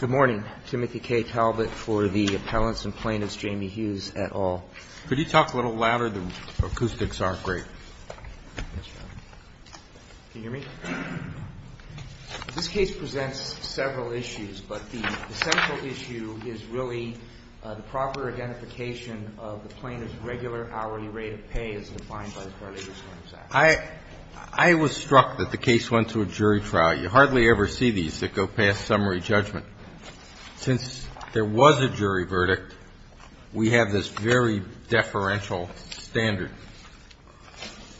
Good morning. Timothy K. Talbot for the Appellants and Plaintiffs, Jamie Hughes et al. Could you talk a little louder? The acoustics aren't great. Can you hear me? This case presents several issues, but the central issue is really the proper identification of the plaintiff's regular hourly rate of pay as defined by the Part A Disclosure Act. I was struck that the case went to a jury trial. You hardly ever see these that go past summary judgment. Since there was a jury verdict, we have this very deferential standard.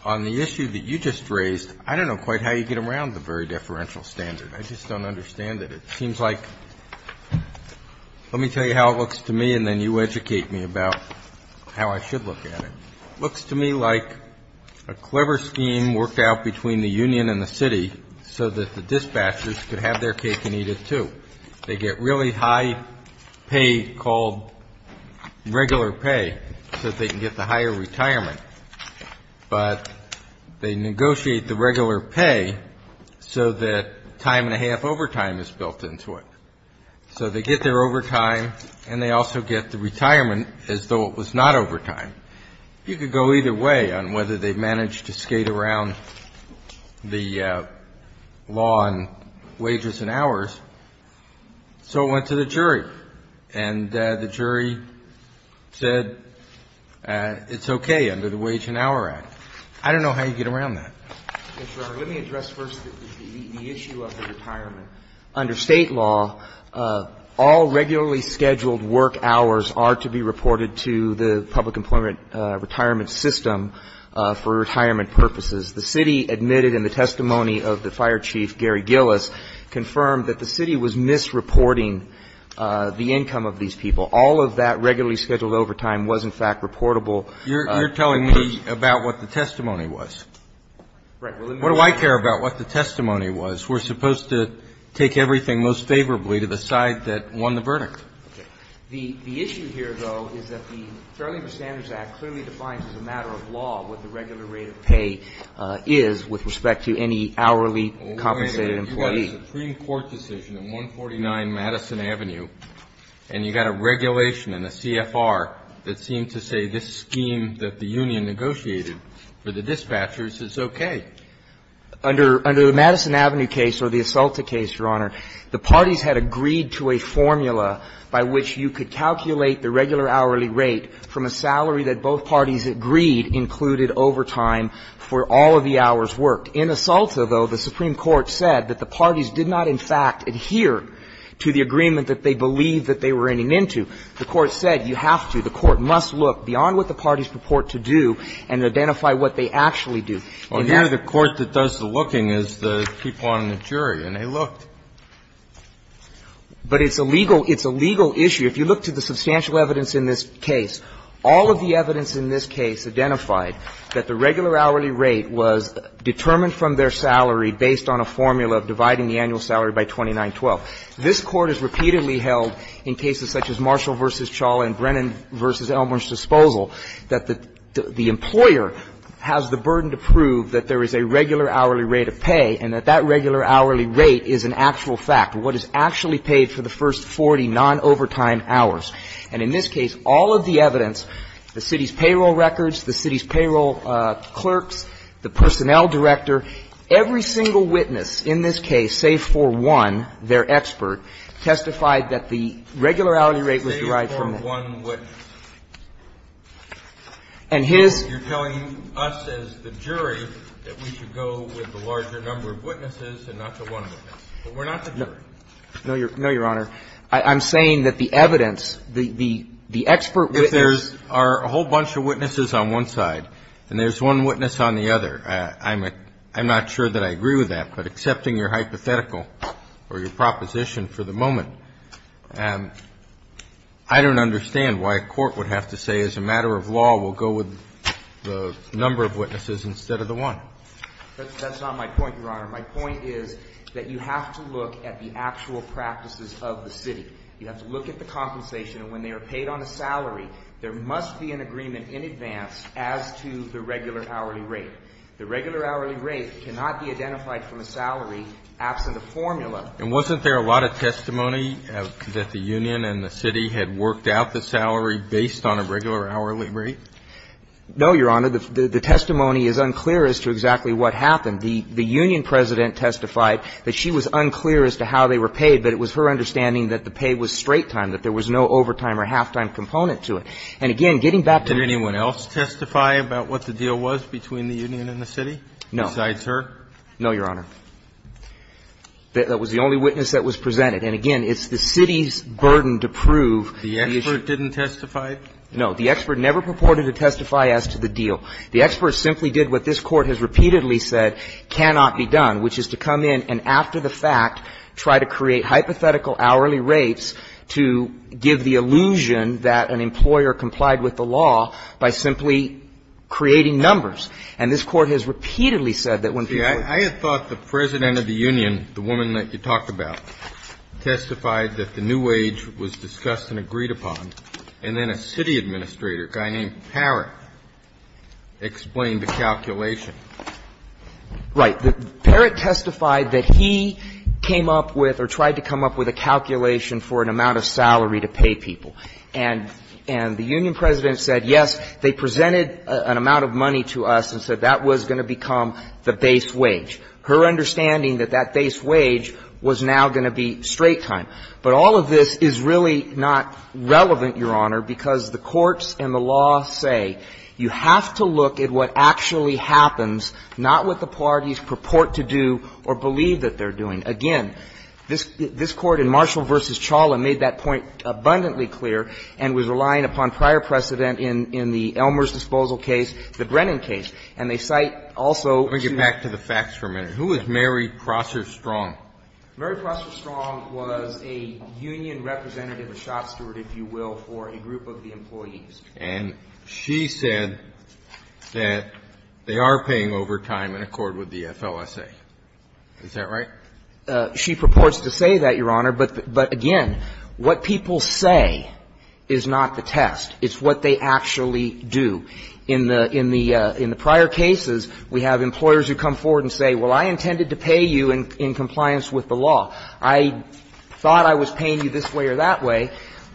On the issue that you just raised, I don't know quite how you get around the very deferential standard. I just don't understand it. It seems like – let me tell you how it looks to me and then you educate me about how I should look at it. It looks to me like a clever scheme worked out between the union and the city so that the dispatchers could have their cake and eat it too. They get really high pay called regular pay so that they can get the higher retirement, but they negotiate the regular pay so that time and a half overtime is built into it. So they get their overtime and they also get the retirement as though it was not overtime. You could go either way on whether they managed to skate around the law on wages and hours. So it went to the jury, and the jury said it's okay under the Wage and Hour Act. I don't know how you get around that. Let me address first the issue of the retirement. Under State law, all regularly scheduled work hours are to be reported to the public employment retirement system for retirement purposes. The city admitted in the testimony of the fire chief, Gary Gillis, confirmed that the city was misreporting the income of these people. All of that regularly scheduled overtime was, in fact, reportable. You're telling me about what the testimony was. Right. What do I care about what the testimony was? We're supposed to take everything most favorably to the side that won the verdict. Okay. The issue here, though, is that the Fair Labor Standards Act clearly defines as a matter of law what the regular rate of pay is with respect to any hourly compensated employee. You've got a Supreme Court decision in 149 Madison Avenue, and you've got a regulation and a CFR that seem to say this scheme that the union negotiated for the dispatchers is okay. Under the Madison Avenue case or the Asalta case, Your Honor, the parties had agreed to a formula by which you could calculate the regular hourly rate from a salary that both parties agreed included overtime for all of the hours worked. In Asalta, though, the Supreme Court said that the parties did not, in fact, adhere to the agreement that they believed that they were running into. The Court said you have to. The Court must look beyond what the parties purport to do and identify what they actually And that's the case. Well, here the Court that does the looking is the people on the jury, and they looked. But it's a legal issue. If you look to the substantial evidence in this case, all of the evidence in this case identified that the regular hourly rate was determined from their salary based on a formula of dividing the annual salary by 2912. This Court has repeatedly held in cases such as Marshall v. Chawla and Brennan v. Elmer's Disposal that the employer has the burden to prove that there is a regular hourly rate of pay and that that regular hourly rate is an actual fact, what is actually paid for the first 40 non-overtime hours. And in this case, all of the evidence, the city's payroll records, the city's payroll clerks, the personnel director, every single witness in this case, save for one, their expert, testified that the regular hourly rate was derived from that. And his You're telling us as the jury that we should go with the larger number of witnesses and not the one witness. But we're not the jury. No, Your Honor. I'm saying that the evidence, the expert witness If there's a whole bunch of witnesses on one side and there's one witness on the other, I'm not sure that I agree with that, but accepting your hypothetical or your proposition for the moment, I don't understand why a court would have to say as a matter of law we'll go with the number of witnesses instead of the one. That's not my point, Your Honor. My point is that you have to look at the actual practices of the city. You have to look at the compensation. And when they are paid on a salary, there must be an agreement in advance as to the regular hourly rate. The regular hourly rate cannot be identified from a salary absent a formula. And wasn't there a lot of testimony that the union and the city had worked out the salary based on a regular hourly rate? No, Your Honor. The testimony is unclear as to exactly what happened. The union president testified that she was unclear as to how they were paid, but it was her understanding that the pay was straight time, that there was no overtime or halftime component to it. And, again, getting back to the Did anyone else testify about what the deal was between the union and the city besides her? No. No, Your Honor. That was the only witness that was presented. And, again, it's the city's burden to prove the issue. The expert didn't testify? No. The expert never purported to testify as to the deal. The expert simply did what this Court has repeatedly said cannot be done, which is to come in and after the fact try to create hypothetical hourly rates to give the illusion that an employer complied with the law by simply creating numbers. And this Court has repeatedly said that when people were ---- I had thought the president of the union, the woman that you talked about, testified that the new wage was discussed and agreed upon, and then a city administrator, a guy named Parrott, explained the calculation. Right. Parrott testified that he came up with or tried to come up with a calculation for an amount of salary to pay people. And the union president said, yes, they presented an amount of money to us and said that was going to become the base wage. Her understanding that that base wage was now going to be straight time. But all of this is really not relevant, Your Honor, because the courts and the law say you have to look at what actually happens, not what the parties purport to do or believe that they're doing. Again, this Court in Marshall v. Chawla made that point abundantly clear and was relying upon prior precedent in the Elmer's disposal case, the Brennan case. And they cite also to ---- Let me get back to the facts for a minute. Who is Mary Prosser Strong? Mary Prosser Strong was a union representative, a shop steward, if you will, for a group of the employees. And she said that they are paying overtime in accord with the FLSA. Is that right? She purports to say that, Your Honor. But, again, what people say is not the test. It's what they actually do. In the prior cases, we have employers who come forward and say, well, I intended to pay you in compliance with the law. I thought I was paying you this way or that way.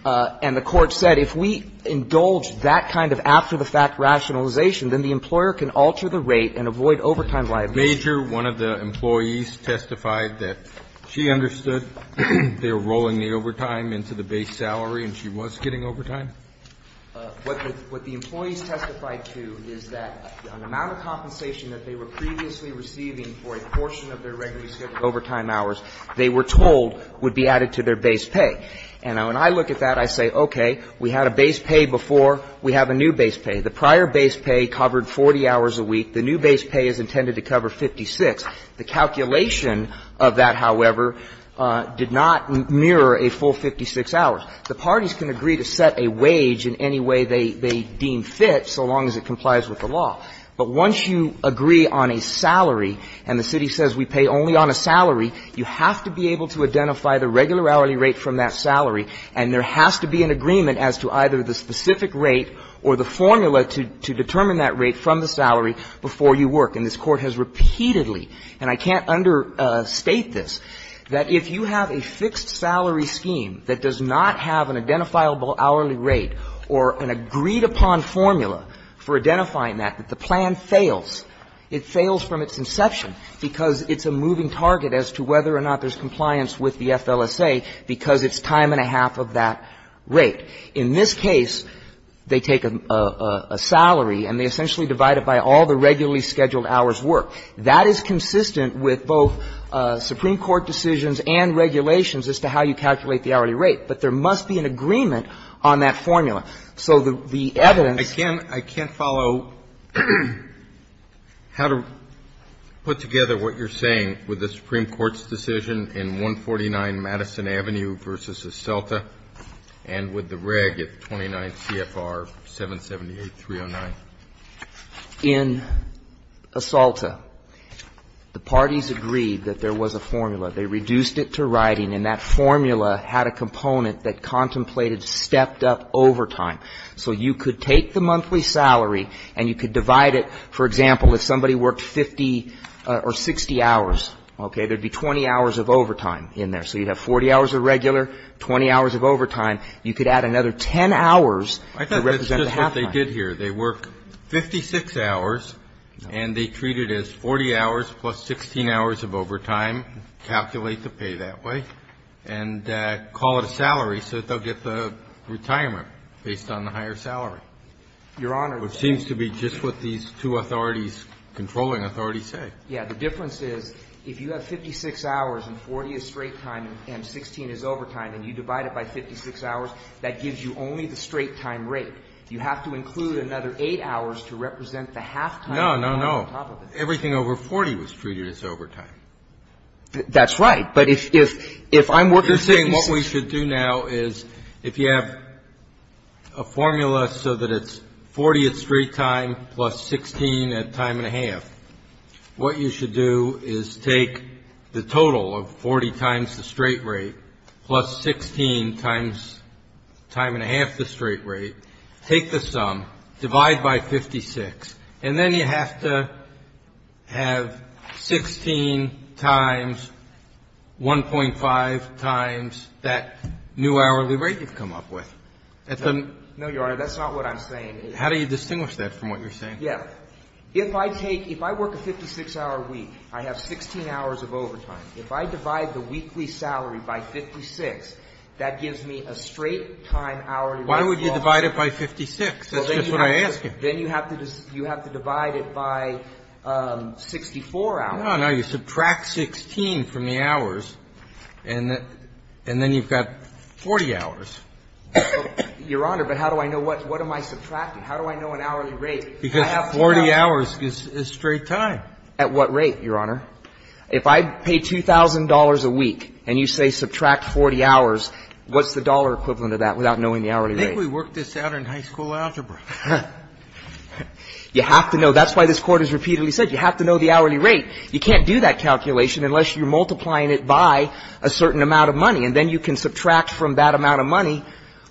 And the Court said if we indulge that kind of after-the-fact rationalization, then the employer can alter the rate and avoid overtime liability. Major, one of the employees, testified that she understood they were rolling the overtime into the base salary and she was getting overtime? What the employees testified to is that the amount of compensation that they were previously receiving for a portion of their regularly scheduled overtime hours, they were told would be added to their base pay. And when I look at that, I say, okay, we had a base pay before. We have a new base pay. The prior base pay covered 40 hours a week. The new base pay is intended to cover 56. The calculation of that, however, did not mirror a full 56 hours. The parties can agree to set a wage in any way they deem fit, so long as it complies with the law. But once you agree on a salary, and the city says we pay only on a salary, you have to be able to identify the regular hourly rate from that salary, and there has to be an agreement as to either the specific rate or the formula to determine that hourly rate from the salary before you work. And this Court has repeatedly, and I can't understate this, that if you have a fixed salary scheme that does not have an identifiable hourly rate or an agreed-upon formula for identifying that, that the plan fails. It fails from its inception because it's a moving target as to whether or not there's compliance with the FLSA because it's time and a half of that rate. In this case, they take a salary, and they essentially divide it by all the regularly scheduled hours worked. That is consistent with both Supreme Court decisions and regulations as to how you calculate the hourly rate. But there must be an agreement on that formula. So the evidence --- I can't follow how to put together what you're saying with the Supreme Court's decision in 149 Madison Avenue v. Esalta and with the reg at 29 CFR 778.309. In Esalta, the parties agreed that there was a formula. They reduced it to writing, and that formula had a component that contemplated stepped-up overtime. So you could take the monthly salary, and you could divide it, for example, if somebody worked 50 or 60 hours, okay? There would be 20 hours of overtime in there. So you'd have 40 hours of regular, 20 hours of overtime. You could add another 10 hours to represent the halftime. I thought that's just what they did here. They worked 56 hours, and they treated it as 40 hours plus 16 hours of overtime, calculate the pay that way, and call it a salary so that they'll get the retirement based on the higher salary. Your Honor, the ---- Which seems to be just what these two authorities, controlling authorities, Yeah, the difference is if you have 56 hours and 40 is straight time and 16 is overtime and you divide it by 56 hours, that gives you only the straight time rate. You have to include another 8 hours to represent the halftime. No, no, no. Everything over 40 was treated as overtime. That's right. But if I'm working ---- You're saying what we should do now is if you have a formula so that it's 40 at straight time plus 16 at time and a half, what you should do is take the total of 40 times the straight rate plus 16 times time and a half the straight rate, take the sum, divide by 56, and then you have to have 16 times 1.5 times that new hourly rate you've come up with. No, Your Honor, that's not what I'm saying. How do you distinguish that from what you're saying? Yeah. If I take ---- if I work a 56-hour week, I have 16 hours of overtime. If I divide the weekly salary by 56, that gives me a straight time hourly rate. Why would you divide it by 56? That's just what I'm asking. Then you have to divide it by 64 hours. No, no. You subtract 16 from the hours, and then you've got 40 hours. Your Honor, but how do I know what? What am I subtracting? How do I know an hourly rate? Because 40 hours is straight time. At what rate, Your Honor? If I pay $2,000 a week and you say subtract 40 hours, what's the dollar equivalent of that without knowing the hourly rate? I think we worked this out in high school algebra. You have to know. That's why this Court has repeatedly said you have to know the hourly rate. You can't do that calculation unless you're multiplying it by a certain amount of money. And then you can subtract from that amount of money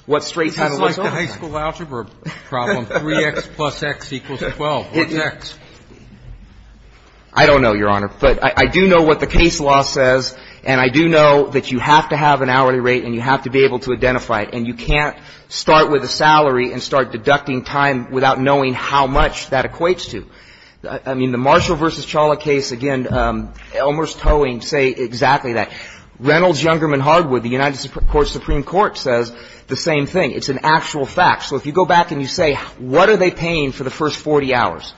what straight time it was. It's just like the high school algebra problem, 3X plus X equals 12. What's X? I don't know, Your Honor. But I do know what the case law says, and I do know that you have to have an hourly rate and you have to be able to identify it. And you can't start with a salary and start deducting time without knowing how much that equates to. I mean, the Marshall v. Chawla case, again, Elmer's towing say exactly that. Reynolds-Youngerman-Hardwood, the United States Supreme Court, says the same thing. It's an actual fact. So if you go back and you say what are they paying for the first 40 hours,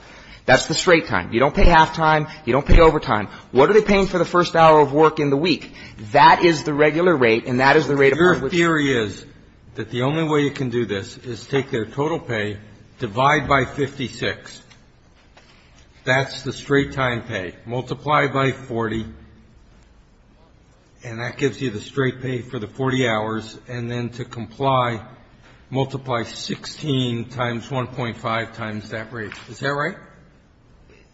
that's the straight time. You don't pay halftime. You don't pay overtime. What are they paying for the first hour of work in the week? That is the regular rate and that is the rate of hard work. Your theory is that the only way you can do this is take their total pay, divide by 56. That's the straight time pay. Multiply by 40, and that gives you the straight pay for the 40 hours. And then to comply, multiply 16 times 1.5 times that rate. Is that right?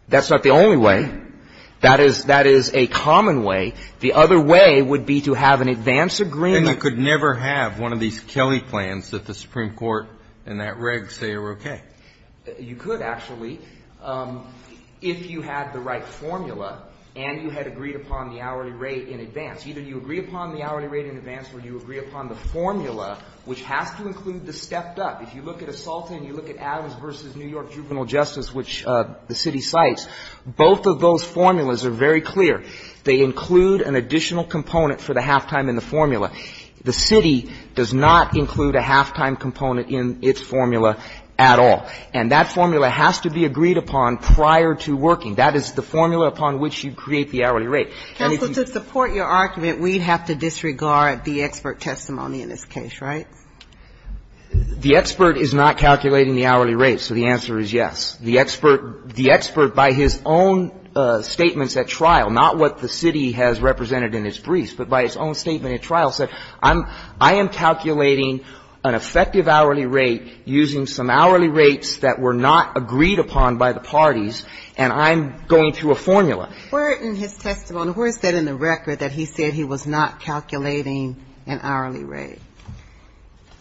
That's not the only way. That is a common way. The other way would be to have an advance agreement. And you could never have one of these Kelly plans that the Supreme Court and that reg say are okay. You could, actually. If you had the right formula and you had agreed upon the hourly rate in advance. Either you agree upon the hourly rate in advance or you agree upon the formula, which has to include the stepped up. If you look at Assalta and you look at Adams v. New York Juvenile Justice, which the city cites, both of those formulas are very clear. They include an additional component for the halftime in the formula. The city does not include a halftime component in its formula at all. And that formula has to be agreed upon prior to working. That is the formula upon which you create the hourly rate. Counsel, to support your argument, we'd have to disregard the expert testimony in this case, right? The expert is not calculating the hourly rate, so the answer is yes. The expert, by his own statements at trial, not what the city has represented in its briefs, but by his own statement at trial, said, I am calculating an effective hourly rate using some hourly rates that were not agreed upon by the parties, and I'm going through a formula. Where in his testimony, where is that in the record that he said he was not calculating an hourly rate?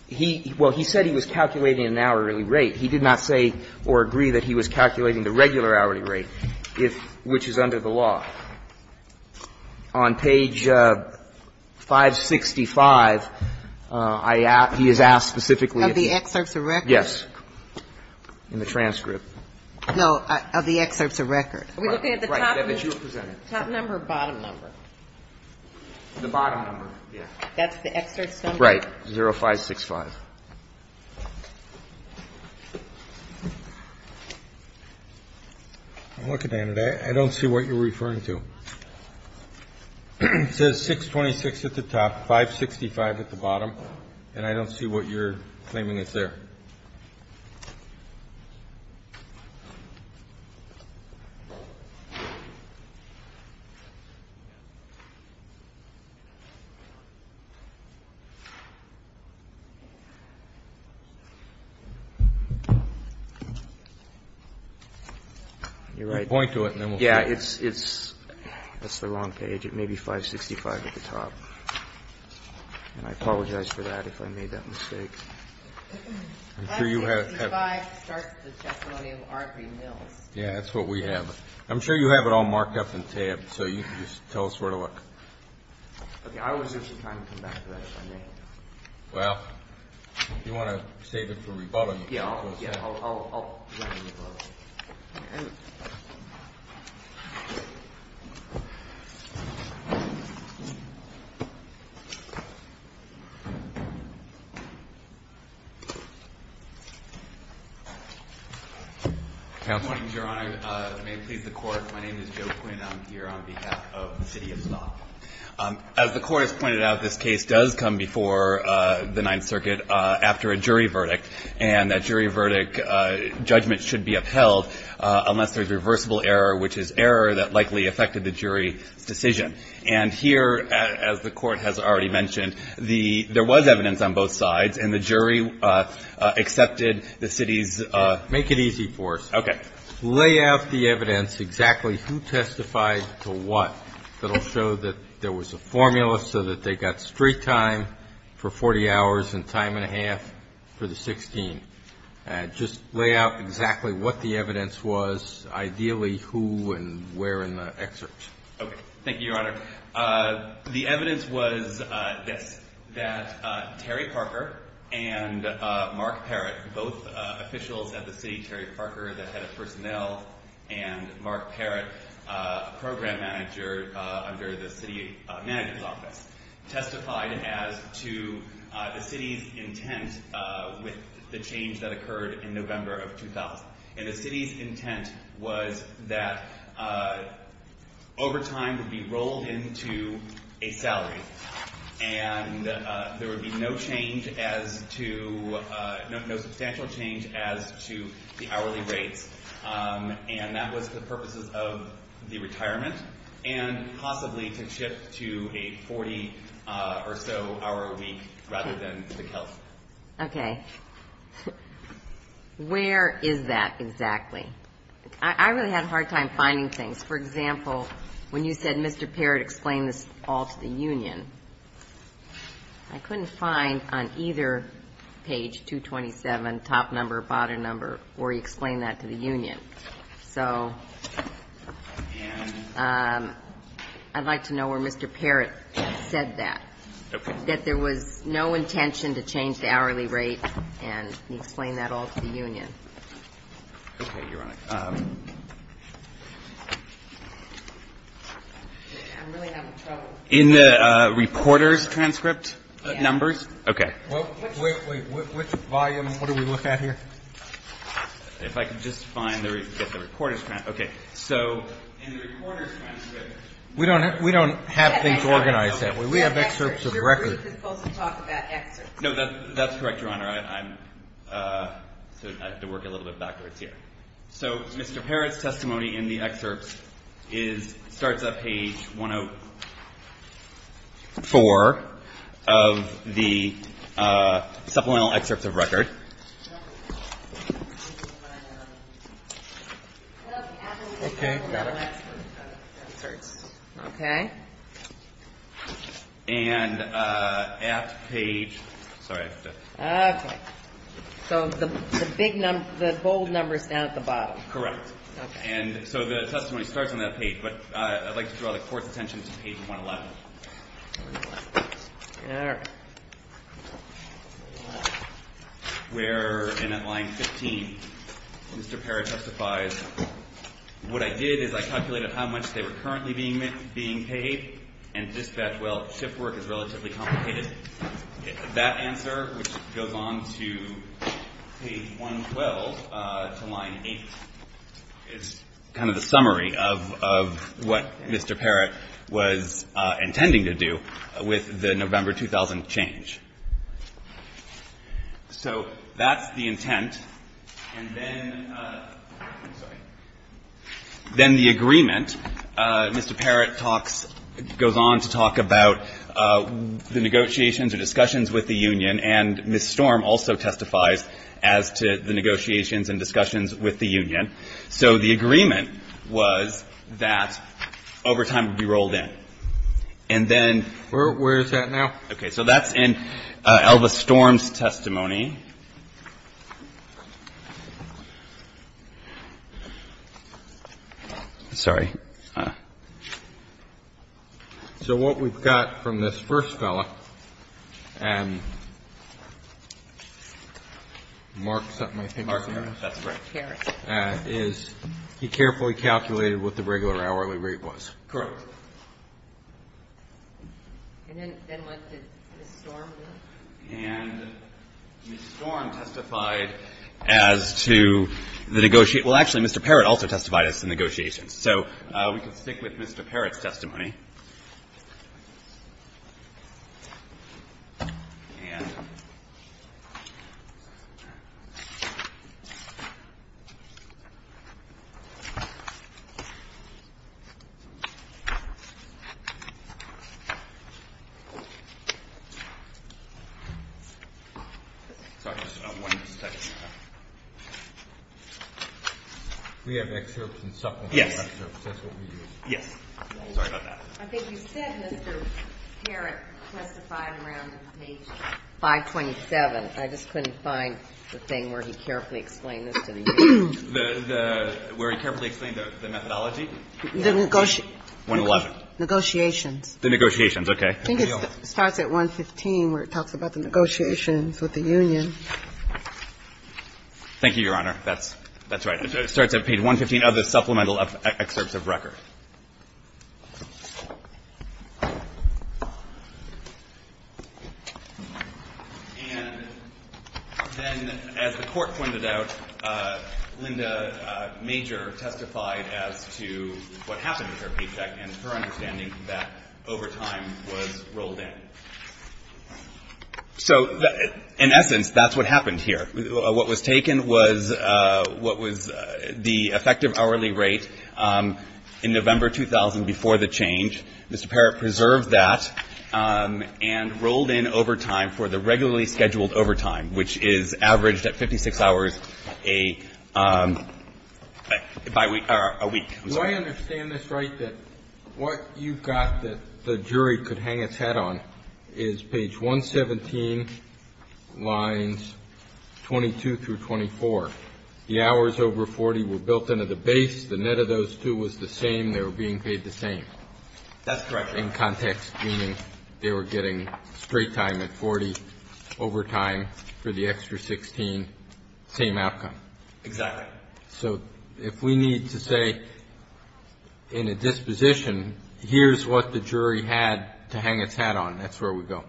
He – well, he said he was calculating an hourly rate. He did not say or agree that he was calculating the regular hourly rate, if – which is under the law. On page 565, I asked – he has asked specifically. Of the excerpts of record? Yes. In the transcript. No, of the excerpts of record. Are we looking at the top number or bottom number? The bottom number, yes. That's the excerpts number? Right, 0565. I'm looking at it. I don't see what you're referring to. It says 626 at the top, 565 at the bottom, and I don't see what you're claiming is there. You're right. Point to it and then we'll see. Yeah. It's – it's the wrong page. It may be 565 at the top. And I apologize for that if I made that mistake. I'm sure you have. 565 starts the testimony of Arbery Mills. Yeah, that's what we have. I'm sure you have it all marked up and tabbed, so you can just tell us where to look. Okay. I was just trying to come back to that, if I may. Well, if you want to save it for rebuttal, you can. Yeah, I'll – I'll run the rebuttal. Counsel. Good morning, Your Honor. May it please the Court. My name is Joe Quinn. I'm here on behalf of the city of Stock. As the Court has pointed out, this case does come before the Ninth Circuit after a jury verdict, and that jury verdict judgment should be upheld unless there's reversible error, which is error that likely affected the jury's decision. And here, as the Court has already mentioned, the – there was evidence on both sides, and the jury accepted the city's – Make it easy for us. Okay. Lay out the evidence, exactly who testified to what, that will show that there was a formula so that they got straight time for 40 hours and time and a half for the 16. Just lay out exactly what the evidence was, ideally who and where in the excerpt. Okay. Thank you, Your Honor. The evidence was this, that Terry Parker and Mark Parrott, both officials at the city, Terry Parker, the head of personnel, and Mark Parrott, program manager under the city manager's office, testified as to the city's intent with the change that occurred in November of 2000. And the city's intent was that overtime would be rolled into a salary, and there would be no change as to – no substantial change as to the hourly rates. And that was the purposes of the retirement, and possibly to shift to a 40-or-so-hour week rather than the KELF. Okay. Where is that exactly? I really had a hard time finding things. For example, when you said Mr. Parrott explained this all to the union, I couldn't find on either page 227, top number or bottom number, where he explained that to the union. So I'd like to know where Mr. Parrott said that. Okay. That there was no intention to change the hourly rate and he explained that all to the union. Okay, Your Honor. I'm really having trouble. In the reporter's transcript numbers? Yes. Okay. Wait, wait. Which volume? What are we looking at here? If I could just find the reporter's transcript. Okay. So in the reporter's transcript. We don't have things organized that way. We have excerpts of records. We're really supposed to talk about excerpts. No, that's correct, Your Honor. I have to work a little bit backwards here. Okay. So Mr. Parrott's testimony in the excerpts starts at page 104 of the supplemental excerpts of record. Okay. Got it. Okay. And at page ‑‑ sorry. Okay. So the bold number is down at the bottom. Correct. Okay. And so the testimony starts on that page. But I'd like to draw the Court's attention to page 111. All right. Where in at line 15, Mr. Parrott testifies, what I did is I calculated how much they were currently being paid and dispatched, well, shift work is relatively complicated. That answer, which goes on to page 112 to line 8, is kind of the summary of what Mr. Parrott was intending to do with the November 2000 change. So that's the intent. And then ‑‑ I'm sorry. Then the agreement, Mr. Parrott talks ‑‑ goes on to talk about the negotiations or discussions with the union, and Ms. Storm also testifies as to the negotiations and discussions with the union. So the agreement was that overtime would be rolled in. And then ‑‑ Where is that now? Okay. Okay. So that's in Elvis Storm's testimony. Sorry. So what we've got from this first fellow, Mark, is he carefully calculated what the regular hourly rate was? Correct. Correct. And then what did Ms. Storm do? And Ms. Storm testified as to the negotiations. Well, actually, Mr. Parrott also testified as to the negotiations. So we can stick with Mr. Parrott's testimony. We have excerpts and supplementary excerpts. That's what we use. Yes. Sorry about that. Okay. I think you said Mr. Parrott testified around page 527. I just couldn't find the thing where he carefully explained this to the union. Where he carefully explained the methodology? The negotiations. The negotiations. Okay. I think it starts at 115 where it talks about the negotiations with the union. Thank you, Your Honor. That's right. It starts at page 115 of the supplemental excerpts of record. And then as the court pointed out, Linda Major testified as to what happened with her paycheck and her understanding that over time was rolled in. So in essence, that's what happened here. What was taken was what was the effective hourly rate in November 2000 before the change. Mr. Parrott preserved that and rolled in over time for the regularly scheduled overtime, which is averaged at 56 hours a week. Do I understand this right, that what you've got that the jury could hang its head on is page 117, lines 22 through 24. The hours over 40 were built into the base. The net of those two was the same. They were being paid the same. That's correct. In context, meaning they were getting straight time at 40 overtime for the extra 16, same outcome. Exactly. So if we need to say in a disposition, here's what the jury had to hang its head on, that's where we go?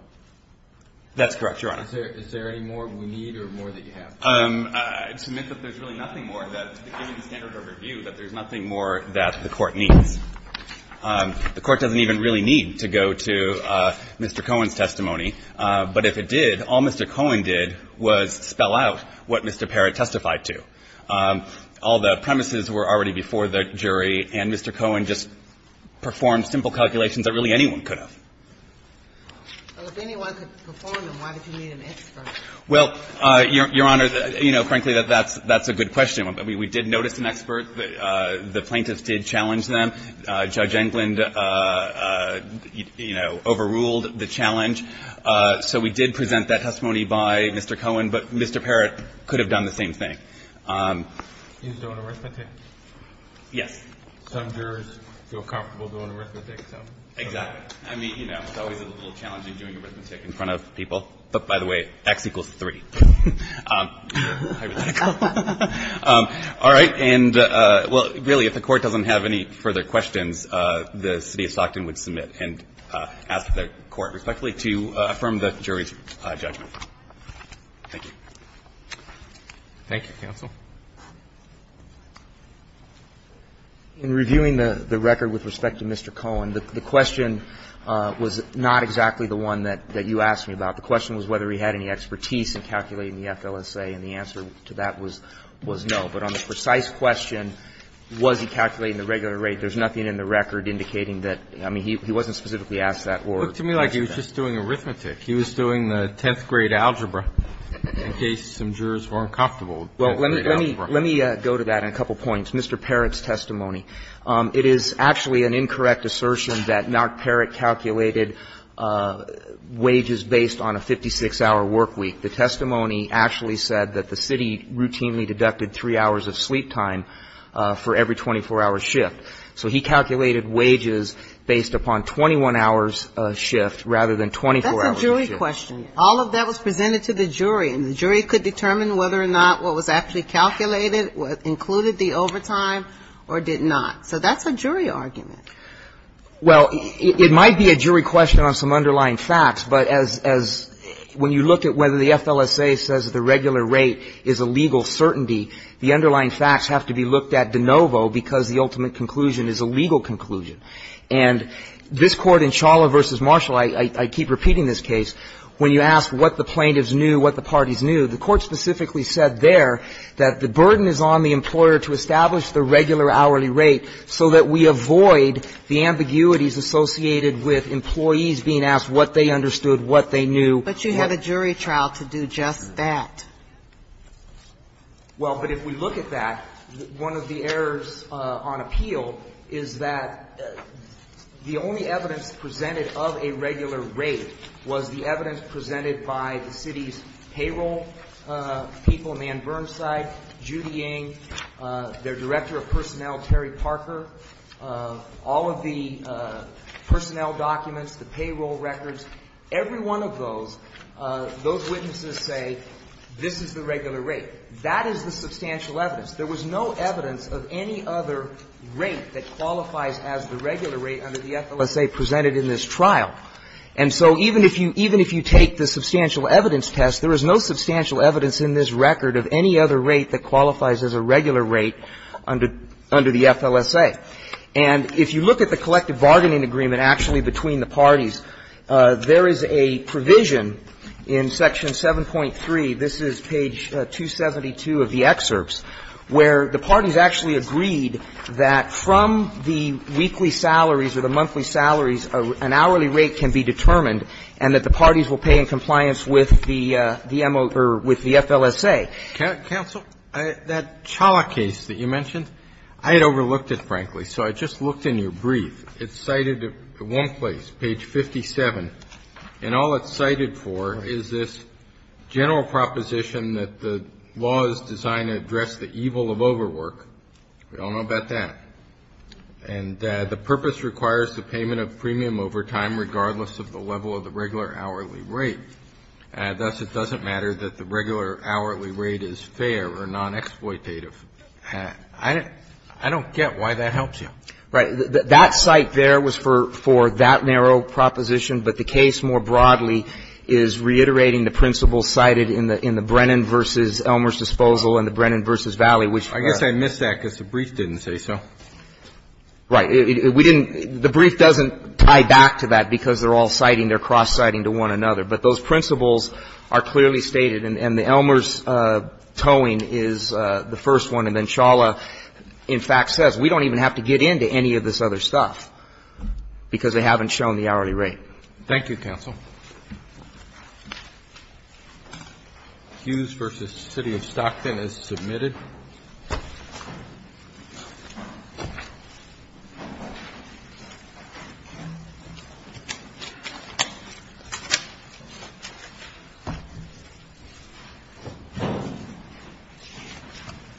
That's correct, Your Honor. Is there any more we need or more that you have? I'd submit that there's really nothing more that, given the standard of review, that there's nothing more that the Court needs. The Court doesn't even really need to go to Mr. Cohen's testimony. But if it did, all Mr. Cohen did was spell out what Mr. Parrott testified to. All the premises were already before the jury, and Mr. Cohen just performed simple calculations that really anyone could have. Well, if anyone could perform them, why did you need an expert? Well, Your Honor, you know, frankly, that's a good question. We did notice an expert. The plaintiffs did challenge them. Judge Englund, you know, overruled the challenge. So we did present that testimony by Mr. Cohen. But Mr. Parrott could have done the same thing. He was doing arithmetic? Yes. Some jurors feel comfortable doing arithmetic. Exactly. I mean, you know, it's always a little challenging doing arithmetic in front of people. But, by the way, X equals 3. All right. And, well, really, if the Court doesn't have any further questions, the City of Stockton would submit and ask the Court respectfully to affirm the jury's judgment. Thank you. Thank you, counsel. In reviewing the record with respect to Mr. Cohen, the question was not exactly the one that you asked me about. The question was whether he had any expertise in calculating the FLSA, and the answer to that was no. But on the precise question, was he calculating the regular rate, there's nothing in the record indicating that. I mean, he wasn't specifically asked that. It looked to me like he was just doing arithmetic. He was doing the 10th grade algebra in case some jurors were uncomfortable with 10th grade algebra. Well, let me go to that in a couple points. Mr. Parrott's testimony, it is actually an incorrect assertion that Mark Parrott calculated wages based on a 56-hour work week. The testimony actually said that the City routinely deducted three hours of sleep time for every 24-hour shift. That's a jury question. All of that was presented to the jury, and the jury could determine whether or not what was actually calculated included the overtime or did not. So that's a jury argument. Well, it might be a jury question on some underlying facts, but as when you look at whether the FLSA says the regular rate is a legal certainty, the underlying facts have to be looked at de novo because the ultimate conclusion is a legal conclusion. And this Court in Chawla v. Marshall, I keep repeating this case, when you ask what the plaintiffs knew, what the parties knew, the Court specifically said there that the burden is on the employer to establish the regular hourly rate so that we avoid the ambiguities associated with employees being asked what they understood, what they knew. But you have a jury trial to do just that. Well, but if we look at that, one of the errors on appeal is that the only evidence presented of a regular rate was the evidence presented by the City's payroll people, Nan Burnside, Judy Ng, their Director of Personnel, Terry Parker. All of the personnel documents, the payroll records, every one of those, those documents, this is the regular rate. That is the substantial evidence. There was no evidence of any other rate that qualifies as the regular rate under the FLSA presented in this trial. And so even if you take the substantial evidence test, there is no substantial evidence in this record of any other rate that qualifies as a regular rate under the FLSA. And if you look at the collective bargaining agreement actually between the parties, there is a provision in Section 7.3, this is page 272 of the excerpts, where the parties actually agreed that from the weekly salaries or the monthly salaries, an hourly rate can be determined and that the parties will pay in compliance with the MO or with the FLSA. Counsel, that Challa case that you mentioned, I had overlooked it, frankly. So I just looked in your brief. It's cited at one place, page 57. And all it's cited for is this general proposition that the law is designed to address the evil of overwork. We all know about that. And the purpose requires the payment of premium over time regardless of the level of the regular hourly rate. Thus, it doesn't matter that the regular hourly rate is fair or non-exploitative. I don't get why that helps you. Right. That cite there was for that narrow proposition, but the case more broadly is reiterating the principles cited in the Brennan v. Elmer's disposal and the Brennan v. Valley, which are the same. I guess I missed that because the brief didn't say so. Right. We didn't – the brief doesn't tie back to that because they're all citing. They're cross-citing to one another. But those principles are clearly stated. And the Elmer's towing is the first one. And then Shawla, in fact, says we don't even have to get into any of this other stuff because they haven't shown the hourly rate. Thank you, counsel. Hughes v. City of Stockton is submitted.